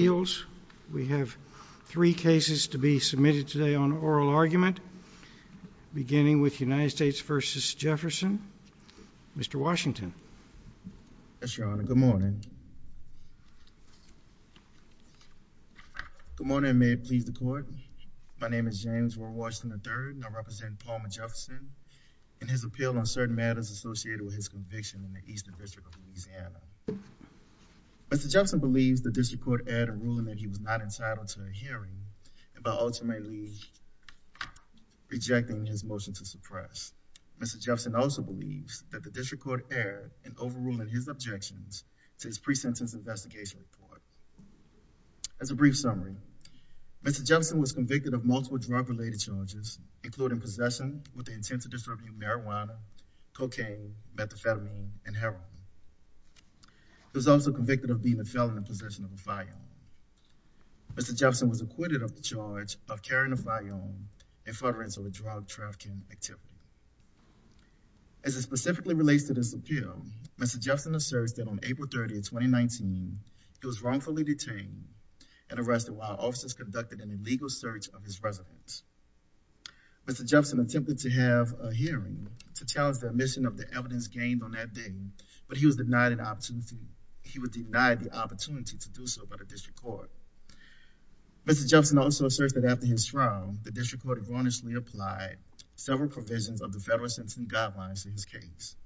appeals. We have three cases to be submitted today on oral argument, beginning with United States v. Jefferson. Mr. Washington. Yes, Your Honor. Good morning. Good morning, and may it please the Court. My name is James Ward Washington III, and I represent Palmer Jefferson in his appeal on certain matters associated with his conviction in the Eastern District Court error in ruling that he was not entitled to a hearing, and by ultimately rejecting his motion to suppress. Mr. Jefferson also believes that the District Court erred in overruling his objections to his pre-sentence investigation report. As a brief summary, Mr. Jefferson was convicted of multiple drug-related charges, including possession with the intent to distribute marijuana, cocaine, methamphetamine, and heroin. He was also convicted of being a felon in possession of a firearm. Mr. Jefferson was acquitted of the charge of carrying a firearm in furtherance of a drug trafficking activity. As it specifically relates to this appeal, Mr. Jefferson asserts that on April 30, 2019, he was wrongfully detained and arrested while officers conducted an illegal search of his residence. Mr. Jefferson attempted to have a hearing to challenge the omission of the evidence gained on that day, but he was denied the opportunity to do so by the District Court. Mr. Jefferson also asserts that after his trial, the District Court admonishingly applied several provisions of the federal sentencing guidelines to his case,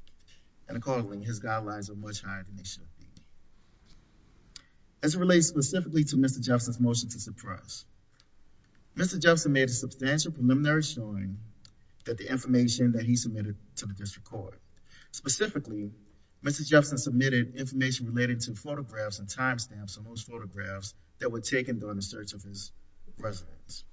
and accordingly, his guidelines are much higher than they should be. As it relates specifically to Mr. Jefferson's motion to suppress, Mr. Jefferson made a substantial preliminary showing that the information that he submitted to the District Court, specifically, Mr. Jefferson submitted information relating to photographs and timestamps on those photographs that were taken during the search of his residence.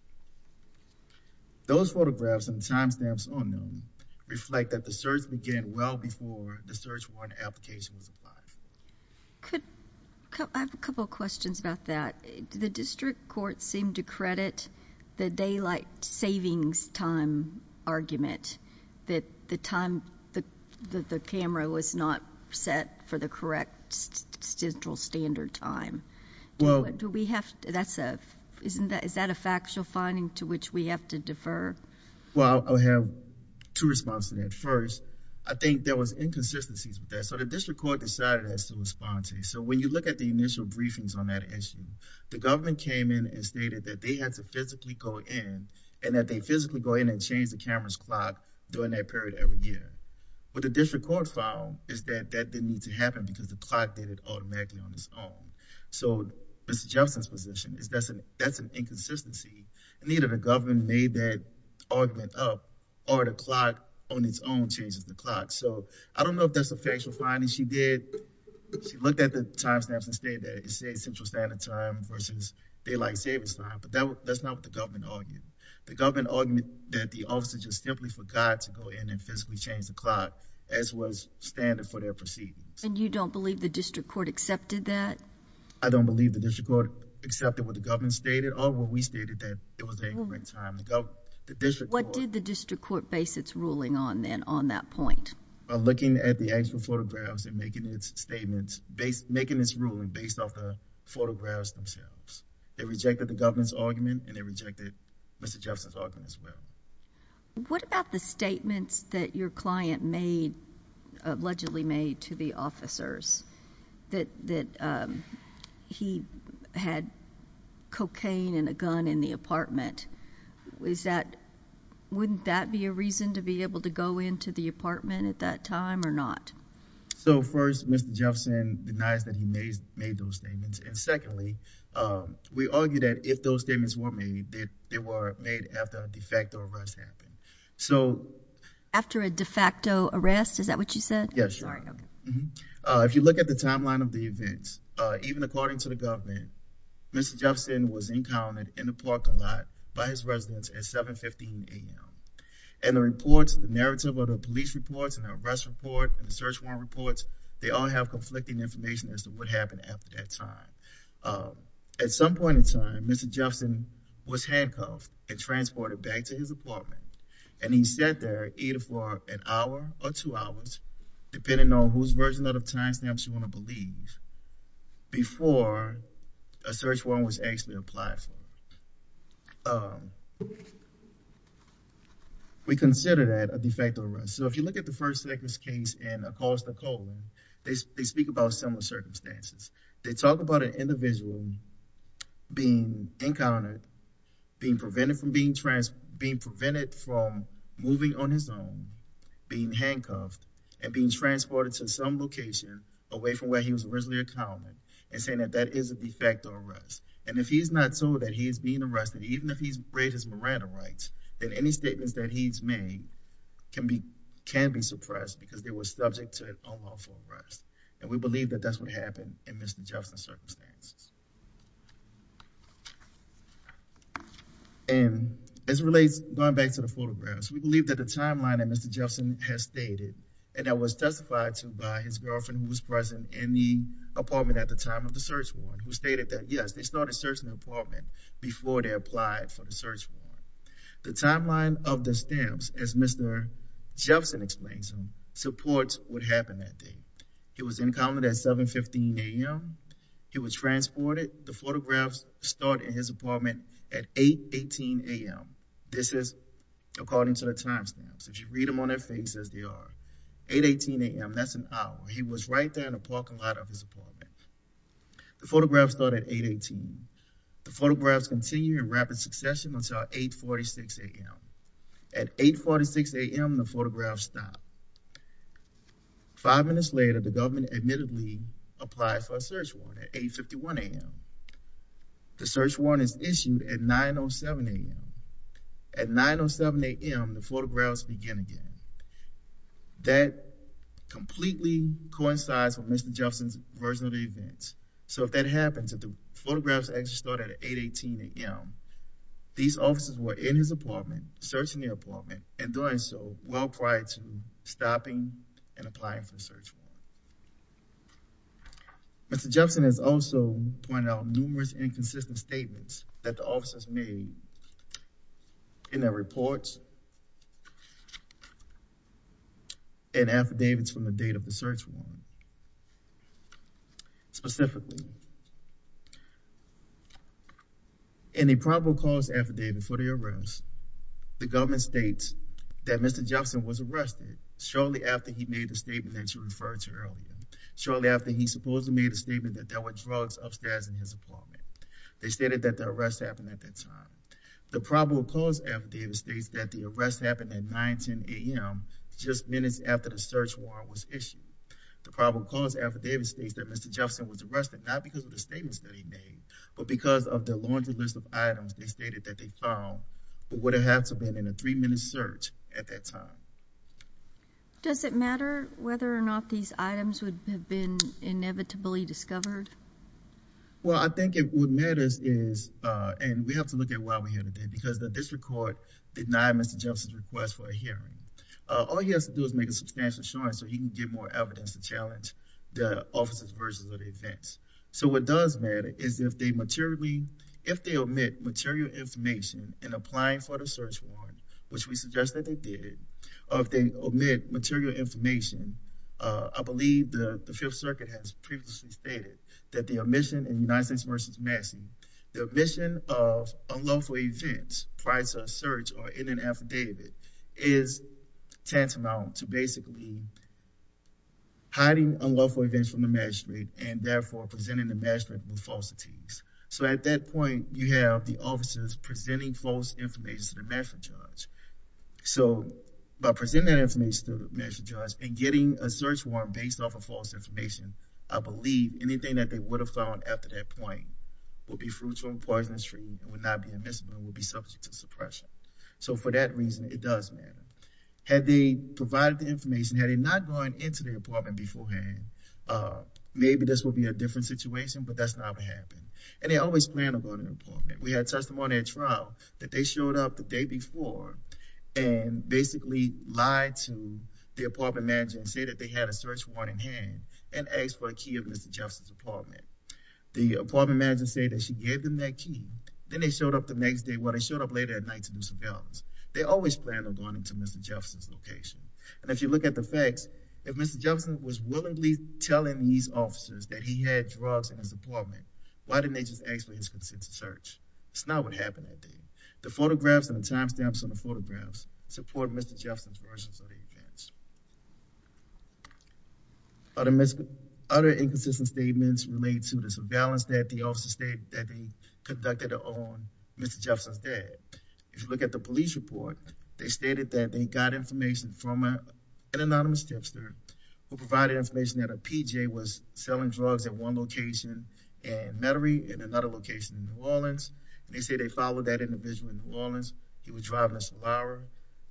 Those photographs and timestamps on them reflect that the search began well before the search warrant application was applied. I have a couple questions about that. The District Court seemed to credit the daylight savings time argument that the time that the camera was not set for the correct central standard time. Is that a factual finding to which we have to defer? Well, I'll have two responses to that. First, I think there was inconsistencies with that. So, the District Court decided as to respond to it. So, when you look at the initial briefings on that issue, the government came in and stated that they had to physically go in and that they physically go in and change the camera's clock during that period every year. What the District Court found is that that didn't need to happen because the clock did it automatically on its own. So, Mr. Jefferson's position is that's an inconsistency, and either the government made that argument up or the clock on its own changes the clock. So, I don't know if that's a factual finding. She looked at the time stamps and stated that it says central standard time versus daylight savings time, but that's not what the government argued. The government argued that the officers just simply forgot to go in and physically change the clock as was standard for their proceedings. And you don't believe the District Court accepted that? I don't believe the District Court accepted what the government stated or what we stated that it was a correct time. What did the District Court base its ruling on then on that point? By looking at the actual photographs and making its statements, making this ruling based off the photographs themselves. They rejected the government's argument and they rejected Mr. Jefferson's argument as well. What about the statements that your client made, allegedly made, to the officers that he had cocaine and a gun in the apartment? Wouldn't that be a reason to be able to go into the apartment at that time or not? So, first, Mr. Jefferson denies that he made those statements. And secondly, we argue that if those statements were made, they were made after a de facto arrest happened. After a de facto arrest? Is that what you said? Yes. If you look at the timeline of the events, even according to the government, Mr. Jefferson was encountered in the parking lot by his residence at 715 A&M. And the reports, the narrative of the police reports and the arrest report and the search warrant reports, they all have conflicting information as to what happened after that time. At some point in time, Mr. Jefferson was handcuffed and transported back to his apartment. And he sat there either for an hour or two hours, depending on whose version of the time stamps you believe, before a search warrant was actually applied for. We consider that a de facto arrest. So, if you look at the first sexist case in Acosta, they speak about similar circumstances. They talk about an individual being encountered, being prevented from moving on his own, being handcuffed and being transported to some location away from where he was originally accounted and saying that that is a de facto arrest. And if he's not told that he's being arrested, even if he's raised his Miranda rights, then any statements that he's made can be suppressed because they were subject to an unlawful arrest. And we believe that that's what happened in Mr. Jefferson's circumstances. And as it relates, going back to the photographs, we believe that the timeline that Mr. Jefferson has stated, and that was testified to by his girlfriend who was present in the apartment at the time of the search warrant, who stated that, yes, they started searching the apartment before they applied for the search warrant. The timeline of the stamps, as Mr. Jefferson explains them, supports what happened that day. He was encountered at 7.15 a.m. He was transported. The photographs start in his apartment at 8.18 a.m. This is according to the timestamps. If you read them on their faces, they are 8.18 a.m. That's an hour. He was right there in the parking lot of his apartment. The photographs started at 8.18. The photographs continue in rapid succession until 8.46 a.m. At 8.46 a.m., the photographs stopped. Five minutes later, the government admittedly applied for a search warrant at 8.51 a.m. The search warrant is issued at 9.07 a.m. At 9.07 a.m., the photographs begin again. That completely coincides with Mr. Jefferson's version of the events. So if that happens, if the photographs actually started at 8.18 a.m., these officers were in his apartment, searching the apartment, and doing so well prior to stopping and applying for a search warrant. Mr. Jefferson has also pointed out numerous inconsistent statements that the officers made in their reports and affidavits from the date of the search warrant, specifically in a probable cause affidavit for the arrest. The government states that Mr. Jefferson was arrested shortly after he made the statement that you referred to earlier, shortly after he supposedly made a statement that there were drugs upstairs in his apartment. They stated that the arrest happened at that time. The probable cause affidavit states that the arrest happened at 9.10 a.m., just minutes after the search warrant was issued. The probable cause affidavit states that Mr. Jefferson was arrested not because of the statements that he made, but because of the laundry list of items they stated that they found would have had to have been in a three-minute search at that time. Does it matter whether or not these items would have been inevitably discovered? Well, I think what matters is, and we have to look at why we're here today, because the district court denied Mr. Jefferson's request for a hearing. All he has to do is make a substantial assurance he can get more evidence to challenge the officer's version of the events. So, what does matter is if they omit material information in applying for the search warrant, which we suggest that they did, or if they omit material information, I believe the Fifth Circuit has previously stated that the omission in United States v. Massey, the omission of unlawful events prior to a search or tantamount to basically hiding unlawful events from the magistrate and therefore presenting the magistrate with falsities. So, at that point, you have the officers presenting false information to the magistrate judge. So, by presenting that information to the magistrate judge and getting a search warrant based off of false information, I believe anything that they would have found after that point would be fruitful and poisonous for you and would not be admissible and would be had they provided the information, had they not gone into the apartment beforehand, maybe this would be a different situation, but that's not what happened. And they always plan to go to an apartment. We had testimony at trial that they showed up the day before and basically lied to the apartment manager and said that they had a search warrant in hand and asked for a key of Mr. Jefferson's apartment. The apartment manager said that she gave them that key. Then they showed up the next day. Well, they showed up later at night to do some bailings. They always planned on going into Mr. Jefferson's location. And if you look at the facts, if Mr. Jefferson was willingly telling these officers that he had drugs in his apartment, why didn't they just ask for his consent to search? It's not what happened that day. The photographs and the time stamps on the photographs support Mr. Jefferson's versions of the events. Other inconsistent statements relate to the surveillance that the officers had. If you look at the police report, they stated that they got information from an anonymous tipster who provided information that a PJ was selling drugs at one location in Metairie and another location in New Orleans. They say they followed that individual in New Orleans. He was driving a salara.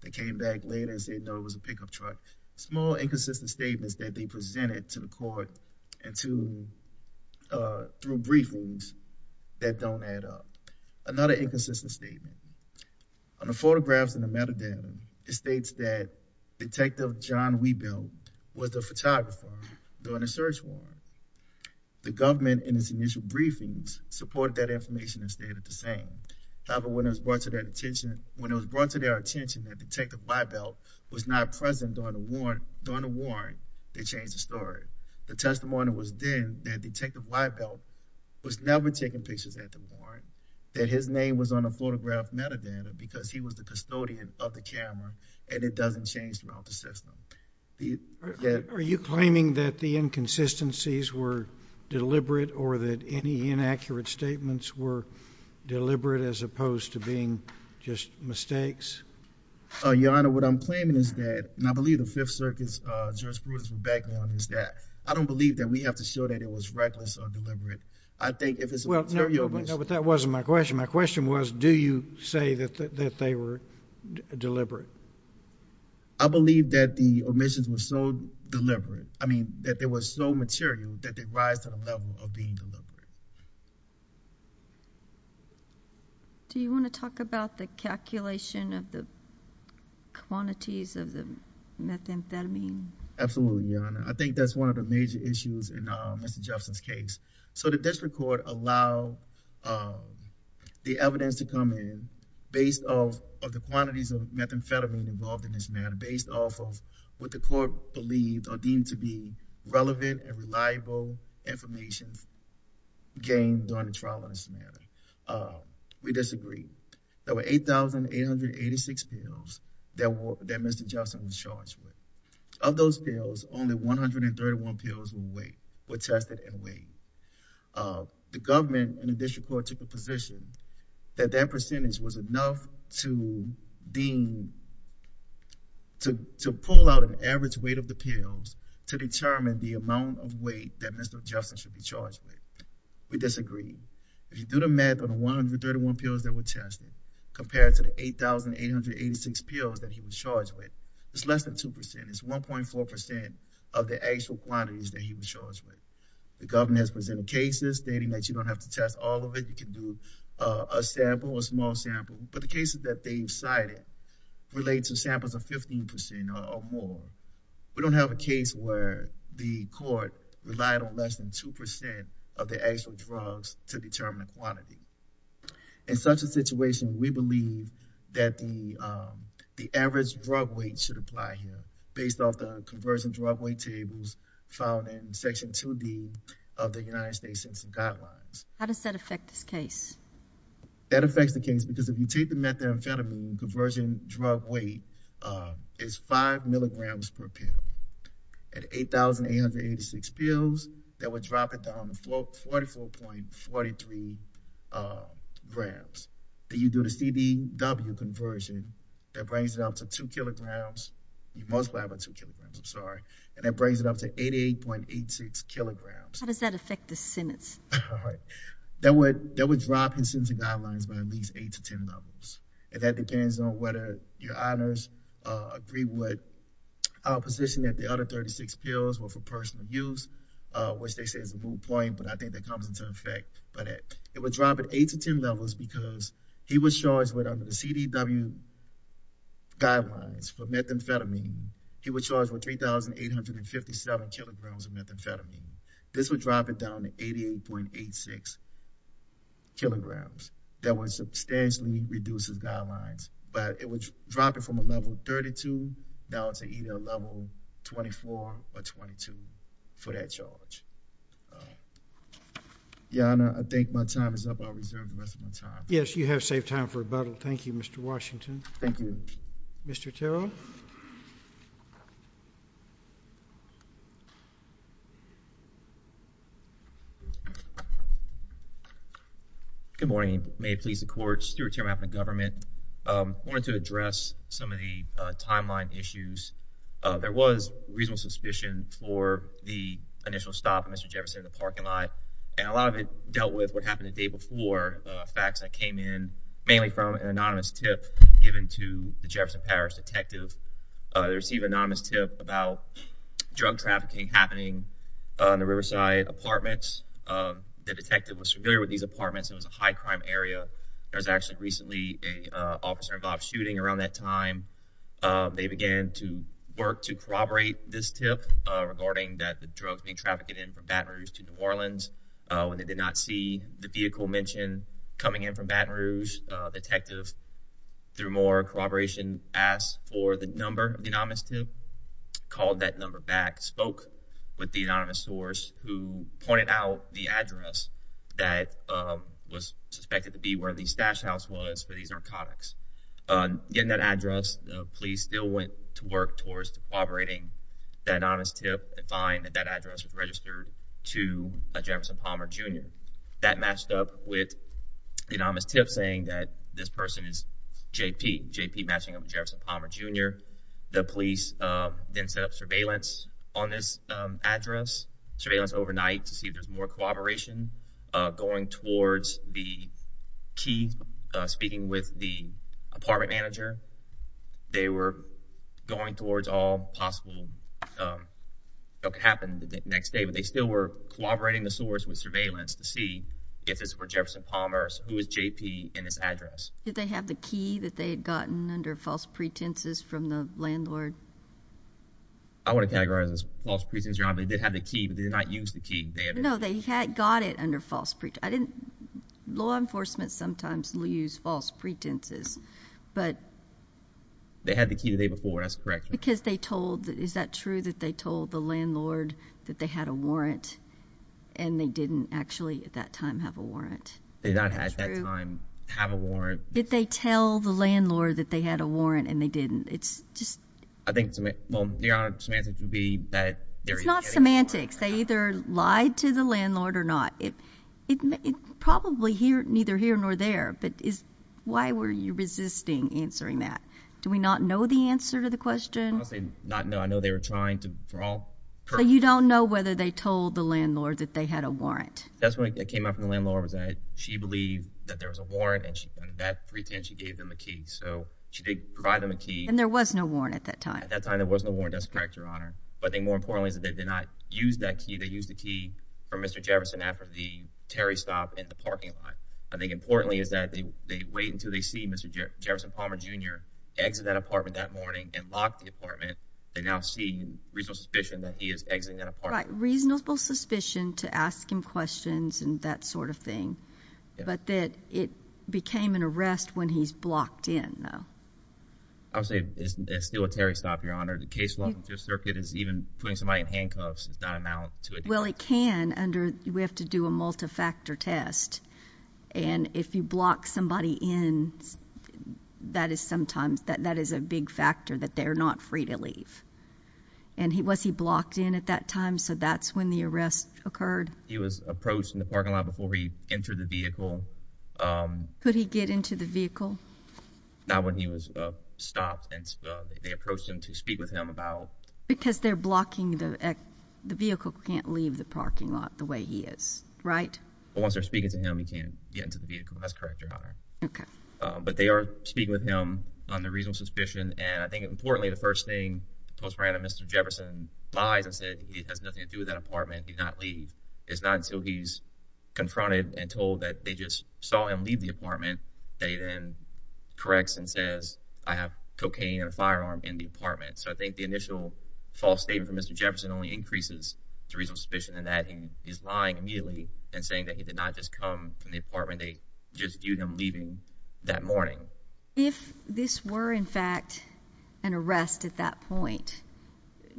They came back later and said, no, it was a pickup truck. Small inconsistent statements that they presented to the court and to through briefings that don't add up. Another inconsistent statement. On the photographs in the metadata, it states that Detective John Weibelt was the photographer during the search warrant. The government in its initial briefings supported that information and stayed at the same. However, when it was brought to their attention that Detective Weibelt was not present during the warrant, they changed the story. The testimony was then that Detective Weibelt was never taking pictures at the warrant, that his name was on the photograph metadata because he was the custodian of the camera and it doesn't change throughout the system. Are you claiming that the inconsistencies were deliberate or that any inaccurate statements were deliberate as opposed to being just mistakes? Your Honor, what I'm claiming is that, and I believe the Fifth Circuit's jurisprudence would back me on this, that I don't believe that we have to show that it was reckless or deliberate. I think if it's a material... No, but that wasn't my question. My question was, do you say that they were deliberate? I believe that the omissions were so deliberate, I mean, that they were so material that they rise to the level of being deliberate. Do you want to talk about the calculation of the quantities of the methamphetamine? Absolutely, Your Honor. I think that's one of the major issues in Mr. Jefferson's case. So, the district court allowed the evidence to come in based off of the quantities of methamphetamine involved in this matter, based off of what the court believed or deemed to be relevant and reliable information gained during the trial on this matter. We disagree. There were 8,886 pills that Mr. Jefferson was charged with. Of those pills, only 131 pills were tested and weighed. The government and the district court took a position that that percentage was enough to pull out an average weight of the pills to determine the amount of weight that Mr. Jefferson should be charged with. We disagree. If you do the math on the 131 pills that were tested, compared to the 8,886 pills that he was charged with, it's less than 2%. It's 1.4% of the actual quantities that he was charged with. The government has presented cases stating that you don't have to test all of it. You can do a sample, a small sample, but the cases that they cited relate to samples of 15% or more. We don't have a case where the court relied on less than 2% of the actual drugs to determine the quantity. In such a situation, we believe that the average drug weight should apply here, based off the conversion drug weight tables found in Section 2D of the United States Census Guidelines. How does that affect this case? That affects the case because if you take the methamphetamine conversion drug weight, it's 5 milligrams per pill. At 8,886 pills, that would drop it down to 44.43 grams. If you do the CDW conversion, that brings it up to 2 kilograms, most probably 2 kilograms, I'm sorry, and that brings it up to 88.86 kilograms. How does that affect the sentence? That would drop his sentence guidelines by at least 8 to 10 levels. That depends on whether your honors agree with our position that the other 36 pills were for personal use, which they say is a moot point, but I think that comes into effect by that. It would drop it 8 to 10 levels because he was charged with, under the CDW guidelines for methamphetamine, he was charged with 3,857 kilograms of methamphetamine. This would drop it down to 88.86 kilograms. That would substantially reduce his guidelines, but it would drop it from a level Yes, you have saved time for rebuttal. Thank you, Mr. Washington. Thank you. Mr. Terrell. Good morning. May it please the Court. Stuart Terrell, Mappin Government. Wanted to address some of the timeline issues. There was reasonable suspicion for the initial stop, Mr. Jefferson, in the parking lot, and a lot of it dealt with what happened the day before facts that came in, mainly from an anonymous tip given to the Jefferson Parish detective. They received an anonymous tip about drug trafficking happening on the Riverside apartments. The detective was familiar with these apartments. It was a high-crime area. There was actually recently an officer-involved shooting around that time. They began to work to corroborate this tip regarding that the drugs being trafficked in from Baton Rouge to New Orleans. When they did not see the vehicle mentioned coming in from Baton Rouge, the detective, through more corroboration, asked for the number of the anonymous tip, called that number back, spoke with the anonymous source who pointed out the address that was suspected to be where the stash house was for these narcotics. Getting that address, the police still went to work towards corroborating that anonymous tip and find that that address was registered to a Jefferson Palmer Jr. That matched up with the anonymous tip saying that this person is J.P. J.P. matching up with Jefferson Palmer Jr. The police then set up surveillance on this address, surveillance overnight to see if there's more corroboration. Going towards the key, speaking with the apartment manager, they were going towards all possible what could happen the next day, but they still were corroborating the source with surveillance to see if this were Jefferson Palmer, who is J.P. in this address. Did they have the key that they had gotten under false pretenses from the landlord? I want to categorize this false pretenses wrong, but they did have the key, but they did not use the key. No, they had got it under false pretenses. I didn't, law enforcement sometimes will use false pretenses, but. They had the key the day before, that's correct. Because they told, is that true, that they told the landlord that they had a warrant and they didn't actually at that time have a warrant? They did not at that time have a warrant. Did they tell the landlord that they had a warrant and they didn't? It's just. I think, well, their semantics would be that. It's not semantics. They either lied to the landlord or not. It probably neither here nor there, but is why were you resisting answering that? Do we not know the answer to the question? I would say not. No, I know they were trying to, for all. So you don't know whether they told the landlord that they had a warrant. That's when it came out from the landlord was that she believed that there was a warrant and she went back and she gave them a key. So she did provide them a key. And there was no warrant at that time. At that time there was no warrant. That's correct, Your Honor. But I think more importantly is that they did not use that key. They used the key from Mr. Jefferson after the Terry stop in the parking lot. I think importantly is that they wait until they see Mr. Jefferson Palmer Jr. exit that apartment that morning and lock the apartment. They now see reasonable suspicion that he is exiting that apartment. Right, reasonable suspicion to ask him questions and that sort of thing. But that it became an arrest when he's blocked in, though. I would say it's still a Terry stop, Your Honor. The case law in this circuit is even putting somebody in handcuffs does not amount to it. Well, it can under we have to do a multi-factor test. And if you block somebody in, that is sometimes that that is a big factor that they're not free to leave. And he was he blocked in at that time. So that's when the arrest occurred. He was approached in the parking lot before he entered the vehicle. Could he get into the vehicle? Not when he was stopped and they approached him to speak with him about. Because they're the vehicle can't leave the parking lot the way he is, right? Well, once they're speaking to him, he can't get into the vehicle. That's correct, Your Honor. Okay. But they are speaking with him on the reasonable suspicion. And I think importantly, the first thing, most random Mr. Jefferson lies and said it has nothing to do with that apartment. He's not leave. It's not until he's confronted and told that they just saw him leave the apartment that he then corrects and says, I have cocaine and a firearm in the apartment. So I think the initial false Mr. Jefferson only increases the reason suspicion and that he is lying immediately and saying that he did not just come from the apartment. They just viewed him leaving that morning. If this were, in fact, an arrest at that point,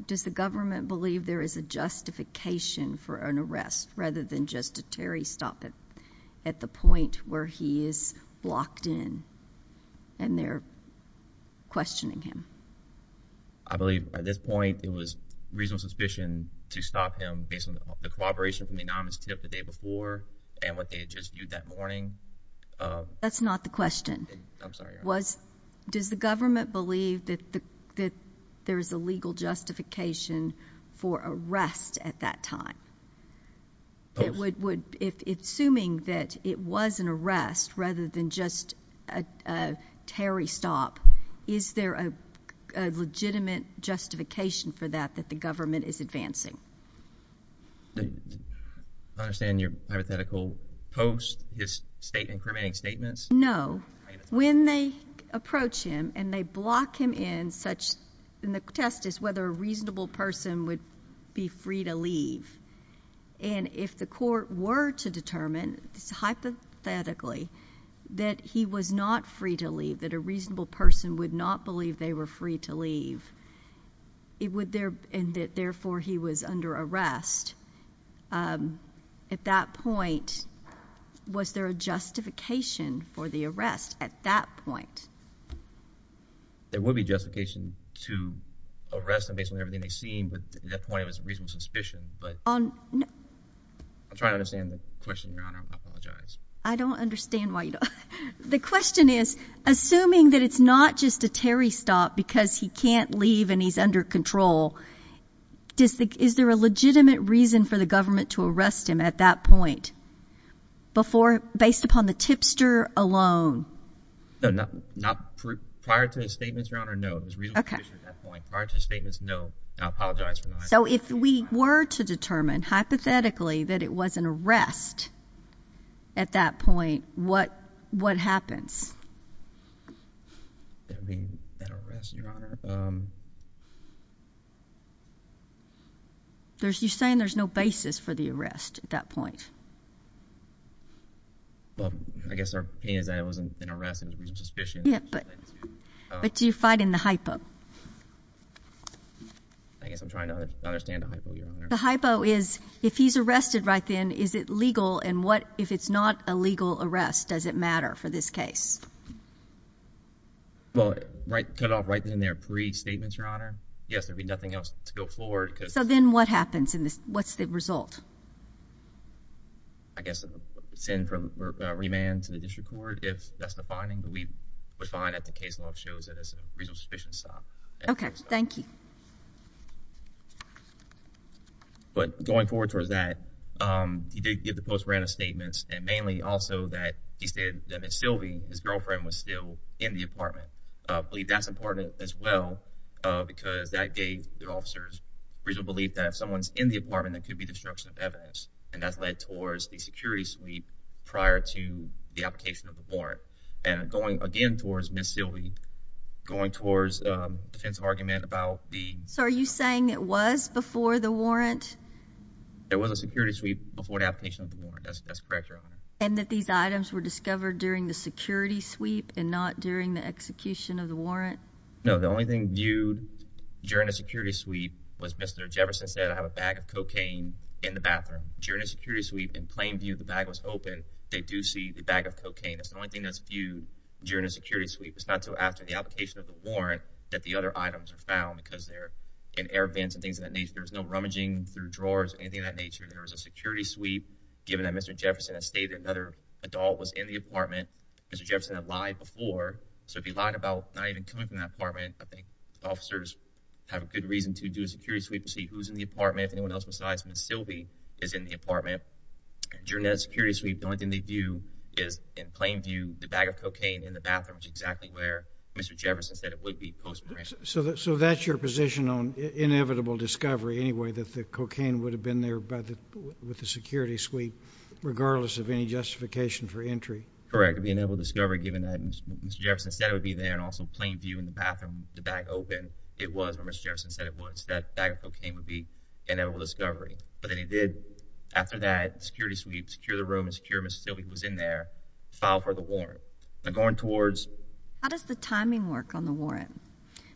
does the government believe there is a justification for an arrest rather than just a Terry stop it at the point where he is locked in and they're questioning him? I believe at this point it was reasonable suspicion to stop him based on the cooperation from the anonymous tip the day before and what they had just viewed that morning. That's not the question. I'm sorry. Does the government believe that there is a legal justification for arrest at that time? Assuming that it was an arrest rather than just a Terry stop, is there a legitimate justification for that that the government is advancing? I understand your hypothetical post is state incriminating statements. No. When they approach him and they block him in such in the test is whether a reasonable person would be free to leave. And if the court were to determine hypothetically that he was not free to reasonable person would not believe they were free to leave. It would there and therefore he was under arrest. At that point, was there a justification for the arrest at that point? There would be justification to arrest him based on everything they've seen. But at that point, it was reasonable suspicion. But I'm trying to understand the question. I apologize. I don't understand why the question is assuming that it's not just a Terry stop because he can't leave and he's under control. Is there a legitimate reason for the government to arrest him at that point before based upon the tipster alone? No, not prior to the statements. So if we were to determine hypothetically that it was an arrest, at that point, what what happens? There's you saying there's no basis for the arrest at that point. Well, I guess our pain is that it wasn't an arrest and suspicion. But do you fight in the hypo? I guess I'm trying to understand the hypo. The hypo is if he's arrested right then, is it legal? And what if it's not a legal arrest? Does it matter for this case? Well, right, cut off right there in their pre statements, Your Honor. Yes, there'd be nothing else to go forward. So then what happens in this? What's the result? I guess it's in from remand to the district court. If that's the finding that we would find that the case law shows it as a reason sufficient stop. Okay, thank you. But going forward towards that, he did give the post random statements and mainly also that he said that Sylvie, his girlfriend, was still in the apartment. I believe that's important as well, because that day their officers reason believe that if someone's in the apartment, there could be destruction of evidence. And that's led towards the security suite prior to the application of the warrant. And going again towards Miss Sylvie, going towards a defensive argument about the. So are you saying it was before the warrant? There was a security sweep before the application of the warrant. That's correct, Your Honor. And that these items were discovered during the security sweep and not during the execution of the warrant? No, the only thing viewed during the security sweep was Mr. Jefferson said, I have a bag of cocaine in the bathroom. During the security sweep, in plain view, the bag was open. They do see the bag of cocaine. That's the only thing that's viewed during a security sweep. It's not till after the application of the warrant that the other items are found because they're in air vents and things of that nature. There's no rummaging through drawers or anything of that nature. There was a security sweep given that Mr. Jefferson has stated another adult was in the apartment. Mr. Jefferson had lied before. So if he lied about not even coming from that apartment, I think the officers have a good reason to do a security sweep to see who's in the apartment, if anyone else besides Miss Sylvie is in the apartment. During that security sweep, the bag of cocaine in the bathroom was exactly where Mr. Jefferson said it would be. So that's your position on inevitable discovery, anyway, that the cocaine would have been there with the security sweep, regardless of any justification for entry? Correct. The inevitable discovery, given that Mr. Jefferson said it would be there and also plain view in the bathroom, the bag open, it was where Mr. Jefferson said it was. That bag of cocaine would be an inevitable discovery. But then he did, after that security sweep, secure the room and secure Miss Sylvie, who was in there, file for the warrant. Now, going towards... How does the timing work on the warrant?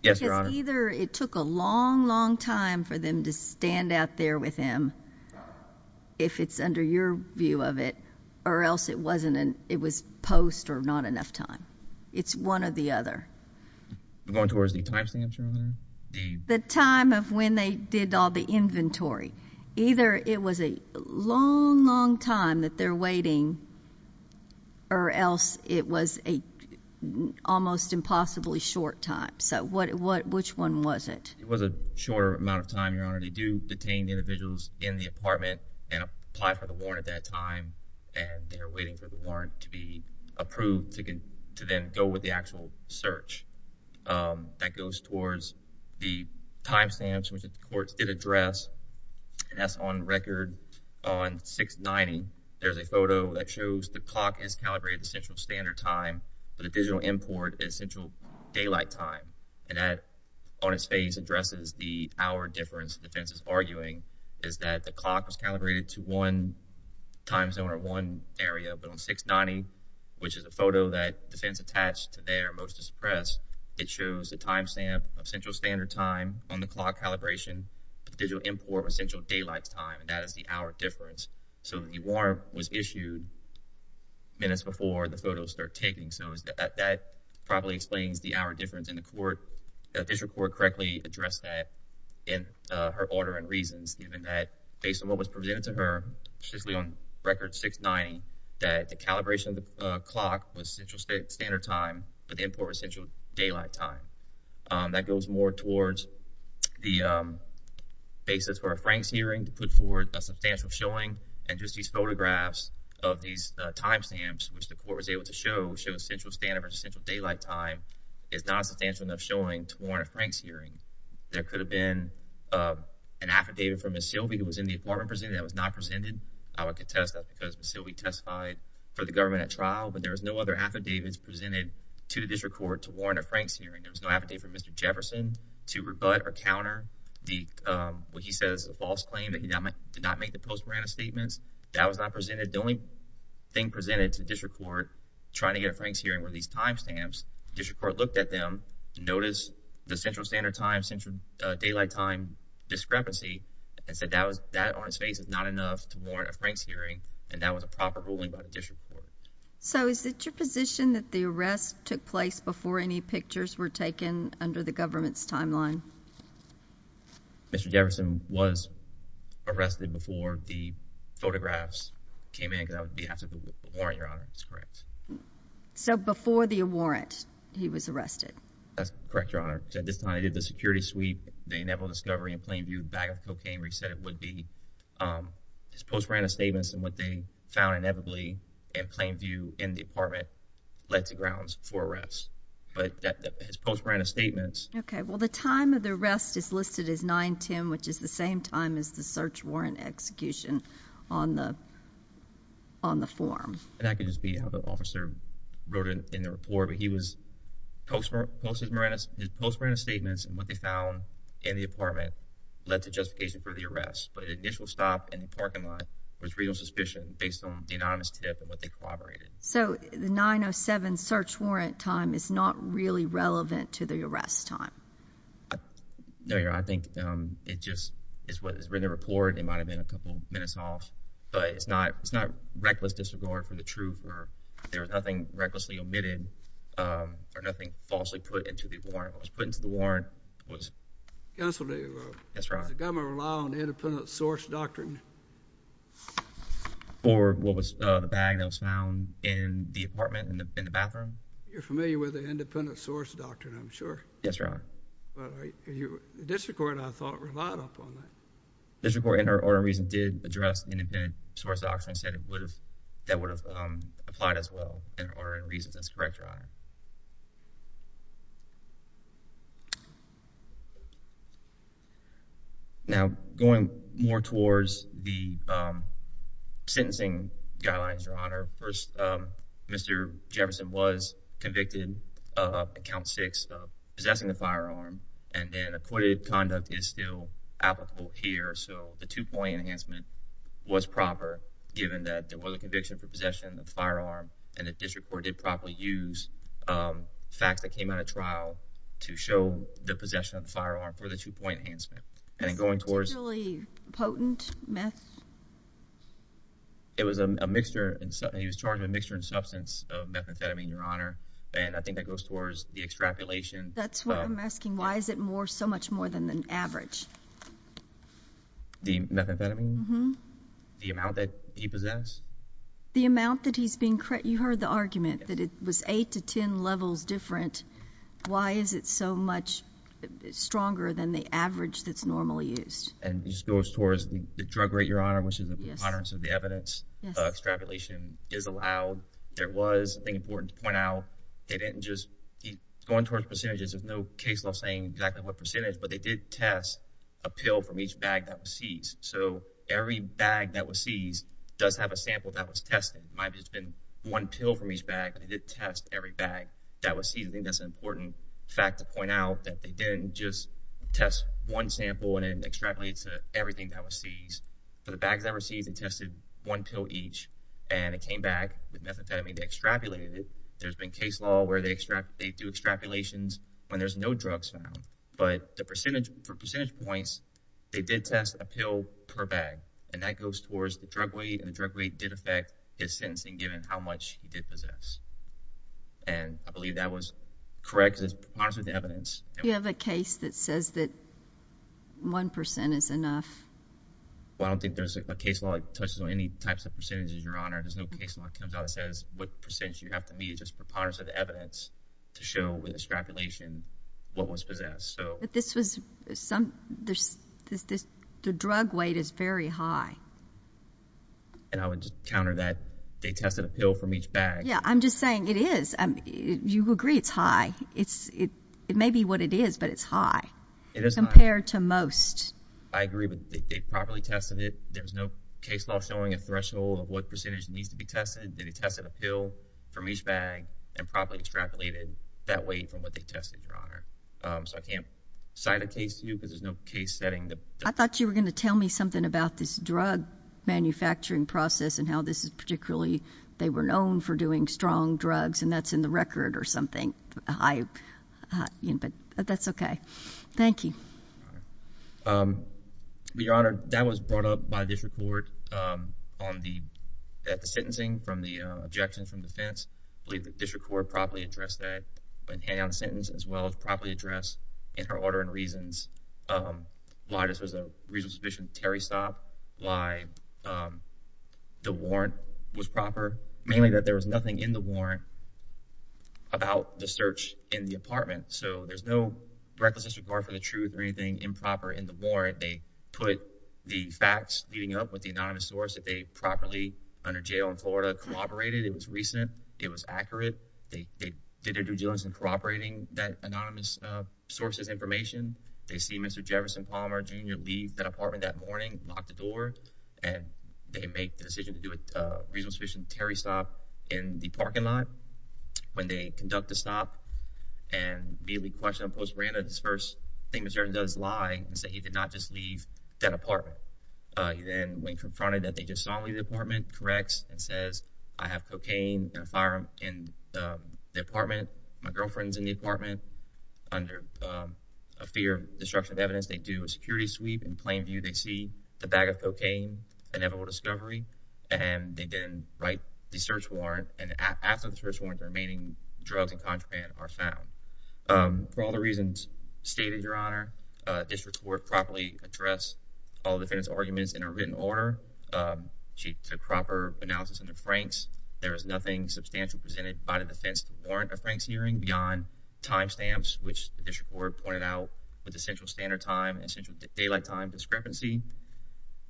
Yes, Your Honor. Because either it took a long, long time for them to stand out there with him, if it's under your view of it, or else it wasn't and it was post or not enough time. It's one or the other. Going towards the time stamp, Your Honor? The time of when they did all the inventory. Either it was a long, long time that they're waiting, or else it was a almost impossibly short time. So which one was it? It was a shorter amount of time, Your Honor. They do detain individuals in the apartment and apply for the warrant at that time, and they're waiting for the warrant to be approved to then go with the actual search. That goes towards the time stamps, which the courts did address, and that's on record. On 690, there's a photo that shows the clock is calibrated to Central Standard Time, but the digital import is Central Daylight Time. And that, on its face, addresses the hour difference the defense is arguing, is that the clock was calibrated to one time zone or one area. But on 690, which is a photo that the defense attached to their most distressed, it time stamp of Central Standard Time on the clock calibration, the digital import was Central Daylight Time, and that is the hour difference. So the warrant was issued minutes before the photos were taken, so that probably explains the hour difference, and the court, the official court correctly addressed that in her order and reasons, given that, based on what was presented to her, specifically on record 690, that the calibration of the clock was Central Standard Time, but the import was Central Daylight Time. That goes more towards the basis for a Franks hearing to put forward a substantial showing, and just these photographs of these time stamps, which the court was able to show, show Central Standard versus Central Daylight Time, is not a substantial enough showing to warrant a Franks hearing. There could have been an affidavit from Ms. Silbey who was in the apartment presented that was not presented. I would contest that because Ms. Silbey testified for the government at trial, but there was no other affidavits presented to the district court to warrant a Franks hearing. There was no affidavit from Mr. Jefferson to rebut or counter the, what he says is a false claim that he did not make the post-branded statements. That was not presented. The only thing presented to district court trying to get a Franks hearing were these time stamps. District court looked at them, noticed the Central Standard Time, Central Daylight Time discrepancy, and said that was, that on its face is not enough to warrant a Franks hearing, and that was a proper ruling by the district court. So is it your position that the arrest took place before any pictures were taken under the government's timeline? Mr. Jefferson was arrested before the photographs came in because that would be after the warrant, Your Honor. That's correct. So before the warrant, he was arrested. That's correct, Your Honor. At this time, they did the security sweep, the inevitable discovery in plain view, bag of cocaine where he said it would be. His post-branded statements and what they found inevitably in plain view would be the grounds for arrest, but his post-branded statements. Okay, well the time of the arrest is listed as 9-10, which is the same time as the search warrant execution on the form. That could just be how the officer wrote it in the report, but he was post-branded statements and what they found in the apartment led to justification for the arrest, but the initial stop in the parking lot was real suspicion based on the anonymous tip and what they collaborated. So the 9-07 search warrant time is not really relevant to the arrest time? No, Your Honor. I think it just is what was written in the report. It might have been a couple minutes off, but it's not reckless disregard for the truth or there was nothing recklessly omitted or nothing falsely put into the warrant. What was put into the warrant was... Counsel, did the government rely on the independent source doctrine? Or what was the bag that was found in the apartment in the bathroom? You're familiar with the independent source doctrine, I'm sure. Yes, Your Honor. But the district court, I thought, relied upon that. District court, in her order of reason, did address the independent source doctrine and said that would have applied as well in her order of reason. That's correct, Your Honor. Now, going more towards the sentencing guidelines, Your Honor. First, Mr. Jefferson was convicted on account six of possessing a firearm, and then acquitted conduct is still applicable here. So the two-point enhancement was proper, given that there was a conviction for possession of the firearm, and the district court did properly use the two-point enhancement. Facts that came out of trial to show the possession of the firearm for the two-point enhancement. And going towards... Was it a particularly potent meth? It was a mixture. He was charged with a mixture in substance of methamphetamine, Your Honor. And I think that goes towards the extrapolation... That's what I'm asking. Why is it so much more than the average? The methamphetamine? Mm-hmm. The amount that he possessed? The amount that he's being... You heard the argument that it was eight to 10 levels different. Why is it so much stronger than the average that's normally used? And it just goes towards the drug rate, Your Honor, which is the moderance of the evidence. Yes. Extrapolation is allowed. There was, I think it's important to point out, they didn't just... Going towards percentages, there's no case law saying exactly what percentage, but they did test a pill from each bag that was seized. So every bag that was seized does have a sample that was tested. It might have just been one pill from each bag. They did test every bag that was seized. I think that's an important fact to point out, that they didn't just test one sample and then extrapolate to everything that was seized. For the bags that were seized, they tested one pill each, and it came back with methamphetamine. They extrapolated it. There's been case law where they do extrapolations when there's no drugs found. But the percentage... For percentage points, they did test a pill per bag, and that goes towards the drug weight, and the drug weight did affect his sentencing given how much he did possess. And I believe that was correct, because it's preponderance of the evidence. You have a case that says that 1% is enough. Well, I don't think there's a case law that touches on any types of percentages, Your Honor. There's no case law that comes out that says what percentage you have to meet. It's just preponderance of the evidence to show with extrapolation what was possessed. But this was some... The drug weight is very high. And I would counter that. They tested a pill from each bag. Yeah, I'm just saying it is. You agree it's high. It may be what it is, but it's high. It is high. Compared to most. I agree, but they properly tested it. There's no case law showing a threshold of what percentage needs to be tested. They tested a pill from each bag and properly extrapolated that weight from what they tested, Your Honor. So I can't cite a case to you, because there's no case setting that... I thought you were going to tell me something about this drug manufacturing process and how this is particularly... They were known for doing strong drugs, and that's in the record or something. But that's okay. Thank you. Your Honor, that was brought up by district court on the sentencing from the objections from defense. I believe the district court properly addressed that when handing out the sentence, as well as properly address in her order and reasons why this was a reasonable suspicion of Terry Stopp, why the warrant was proper, mainly that there was nothing in the warrant about the search in the apartment. So there's no reckless disregard for the truth or anything improper in the warrant. They put the facts leading up with the anonymous source that they properly, under jail in Florida, corroborated. It was recent. It was accurate. They did their due diligence in corroborating that anonymous source's information. They see Mr. Jefferson Palmer Jr. leave that apartment that morning, lock the door, and they make the decision to do a reasonable suspicion of Terry Stopp in the parking lot. When they conduct the stop and immediately question him post-branded, his first thing that he does is lie and say he did not just leave that apartment. He then, when confronted that they just saw him leave the apartment, corrects and says, I have cocaine and a firearm in the apartment. My girlfriend's in the apartment. Under a fear of destruction of evidence, they do a security sweep. In plain view, they see the bag of cocaine, inevitable discovery, and they then write the search warrant. And after the search warrant, the remaining drugs and contraband are found. For all the reasons stated, Your Honor, District Court properly addressed all the defendants' arguments in a written order. She took proper analysis of the franks. There is nothing substantially presented by the defense warrant of Frank's hearing beyond time stamps, which the District Court pointed out was essential standard time and essential daylight time discrepancy.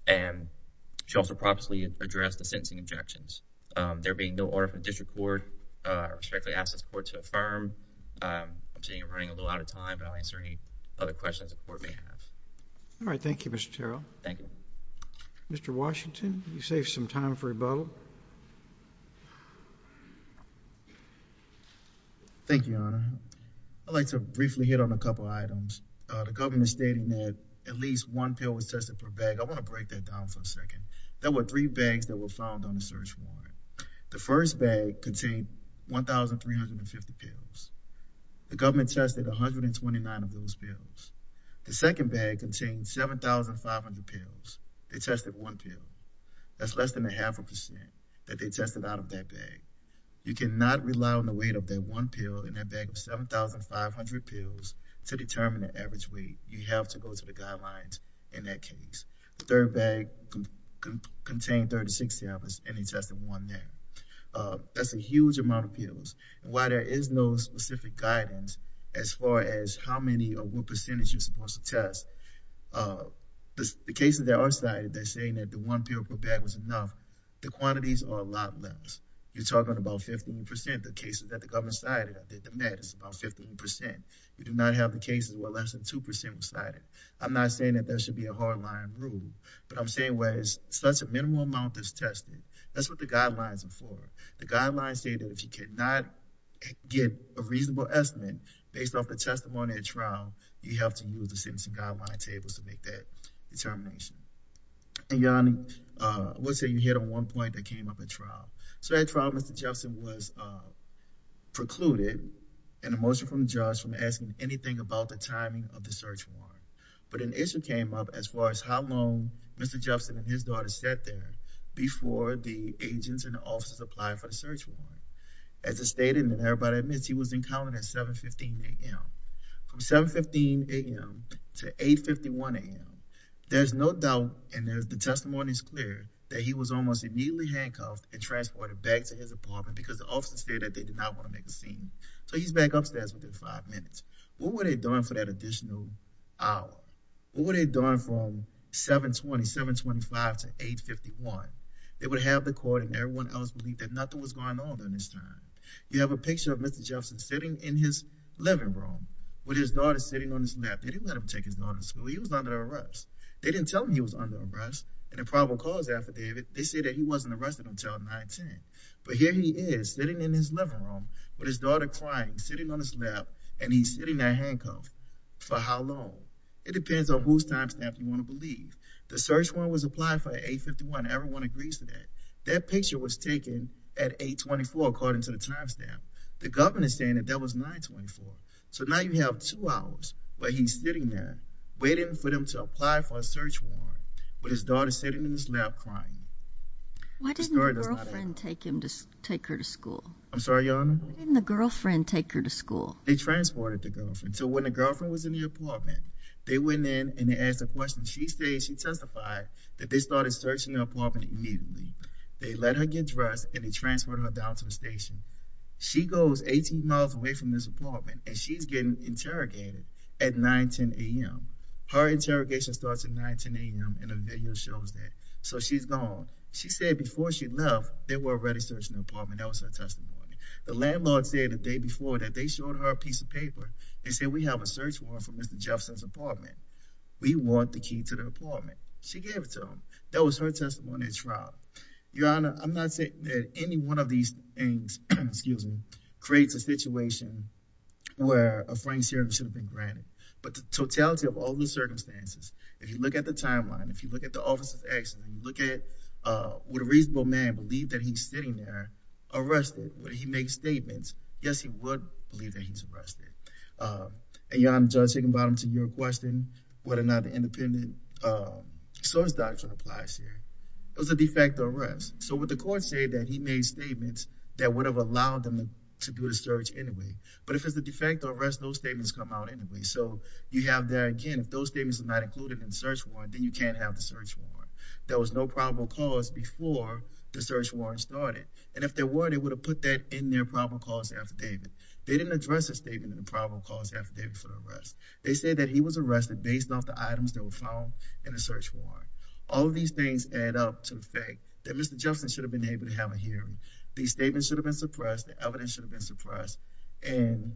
And she also properly addressed the sentencing objections. There being no order from the District Court, I respectfully ask the Court to pass. All right. Thank you, Mr. Terrell. Thank you. Mr. Washington, you saved some time for rebuttal. Thank you, Your Honor. I'd like to briefly hit on a couple items. The government stating that at least one pill was tested per bag. I want to break that down for a second. There were three bags that were found on the search warrant. The first bag contained 1,350 pills. The government tested 129 of those pills. The second bag contained 7,500 pills. They tested one pill. That's less than a half a percent that they tested out of that bag. You cannot rely on the weight of that one pill in that bag of 7,500 pills to determine the average weight. You have to go to the guidelines in that case. The third bag contained 3,060 of those pills. That's a huge amount of pills. While there is no specific guidance as far as how many or what percentage you're supposed to test, the cases that are cited, they're saying that the one pill per bag was enough. The quantities are a lot less. You're talking about 51 percent of the cases that the government cited. I did the math. It's about 51 percent. You do not have the cases where less than 2 percent were cited. I'm not saying that there should be a hardline rule, but I'm saying such a minimal amount that's tested. That's what the guidelines are for. The guidelines say that if you cannot get a reasonable estimate based off the testimony at trial, you have to use the sentencing guideline tables to make that determination. I would say you hit on one point that came up at trial. At trial, Mr. Jefferson was precluded in the motion from the judge from asking anything about the timing of the search warrant, but an issue came up as far as how Mr. Jefferson and his daughter sat there before the agents and the officers applied for the search warrant. As it stated, and everybody admits, he was encountered at 7.15 a.m. From 7.15 a.m. to 8.51 a.m., there's no doubt, and the testimony is clear, that he was almost immediately handcuffed and transported back to his apartment because the officers stated that they did not want to make a scene. So he's back upstairs within five minutes. What were they doing for that additional hour? What were they doing from 7.20, 7.25 to 8.51? They would have the court and everyone else believe that nothing was going on during this time. You have a picture of Mr. Jefferson sitting in his living room with his daughter sitting on his lap. They didn't let him take his daughter to school. He was under arrest. They didn't tell him he was under arrest, and in probable cause affidavit, they say that he wasn't arrested until 9.10. But here he is sitting in his living room with his daughter. It depends on whose timestamp you want to believe. The search warrant was applied for at 8.51. Everyone agrees to that. That picture was taken at 8.24, according to the timestamp. The government is saying that that was 9.24. So now you have two hours where he's sitting there waiting for them to apply for a search warrant with his daughter sitting in his lap crying. Why didn't the girlfriend take him to take her to school? I'm sorry, Your Honor? Why didn't the girlfriend take her to school? They transported the girlfriend. So when the girlfriend was in the apartment, they went in and they asked a question. She said she testified that they started searching the apartment immediately. They let her get dressed, and they transferred her down to the station. She goes 18 miles away from this apartment, and she's getting interrogated at 9.10 a.m. Her interrogation starts at 9.10 a.m., and the video shows that. So she's gone. She said before she left, they were already searching the apartment. That was her testimony. The landlord said the day before that they showed her a piece of paper. They said we have a search warrant for Mr. Jefferson's apartment. We want the key to the apartment. She gave it to him. That was her testimony at trial. Your Honor, I'm not saying that any one of these things, excuse me, creates a situation where a Frank serum should have been granted. But the totality of all the circumstances, if you look at the timeline, if you look at the office of action, you look at would a reasonable man believe that he's sitting there arrested? Would he make statements? Yes, he would believe that he's arrested. And Your Honor, Judge Higginbottom, to your question, whether or not the independent source doctrine applies here, it was a de facto arrest. So would the court say that he made statements that would have allowed them to do the search anyway? But if it's a de facto arrest, those statements come out anyway. So you have there, again, if those statements are not included in the search warrant, then you can't have the search warrant. There was no probable cause before the search warrant started. And if there were, they would have put that in their probable cause affidavit. They didn't address a statement in the probable cause affidavit for the arrest. They said that he was arrested based off the items that were found in the search warrant. All of these things add up to the fact that Mr. Jefferson should have been able to have a hearing. These statements should have been suppressed, the evidence should have been suppressed, and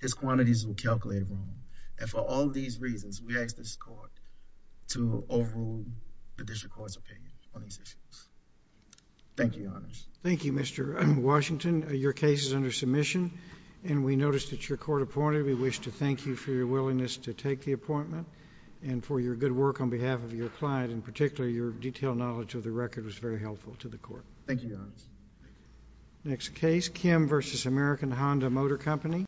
his quantities were calculated wrong. And for all these reasons, we ask this court to overrule the district court's opinion on these issues. Thank you, Your Honors. Thank you, Mr. Washington. Your case is under submission, and we noticed that your court appointed. We wish to thank you for your willingness to take the appointment and for your good work on behalf of your client, and particularly your detailed knowledge of the record was very helpful to the court. Thank you, Your Honors. Next case, Kim v. American Honda Motor Company.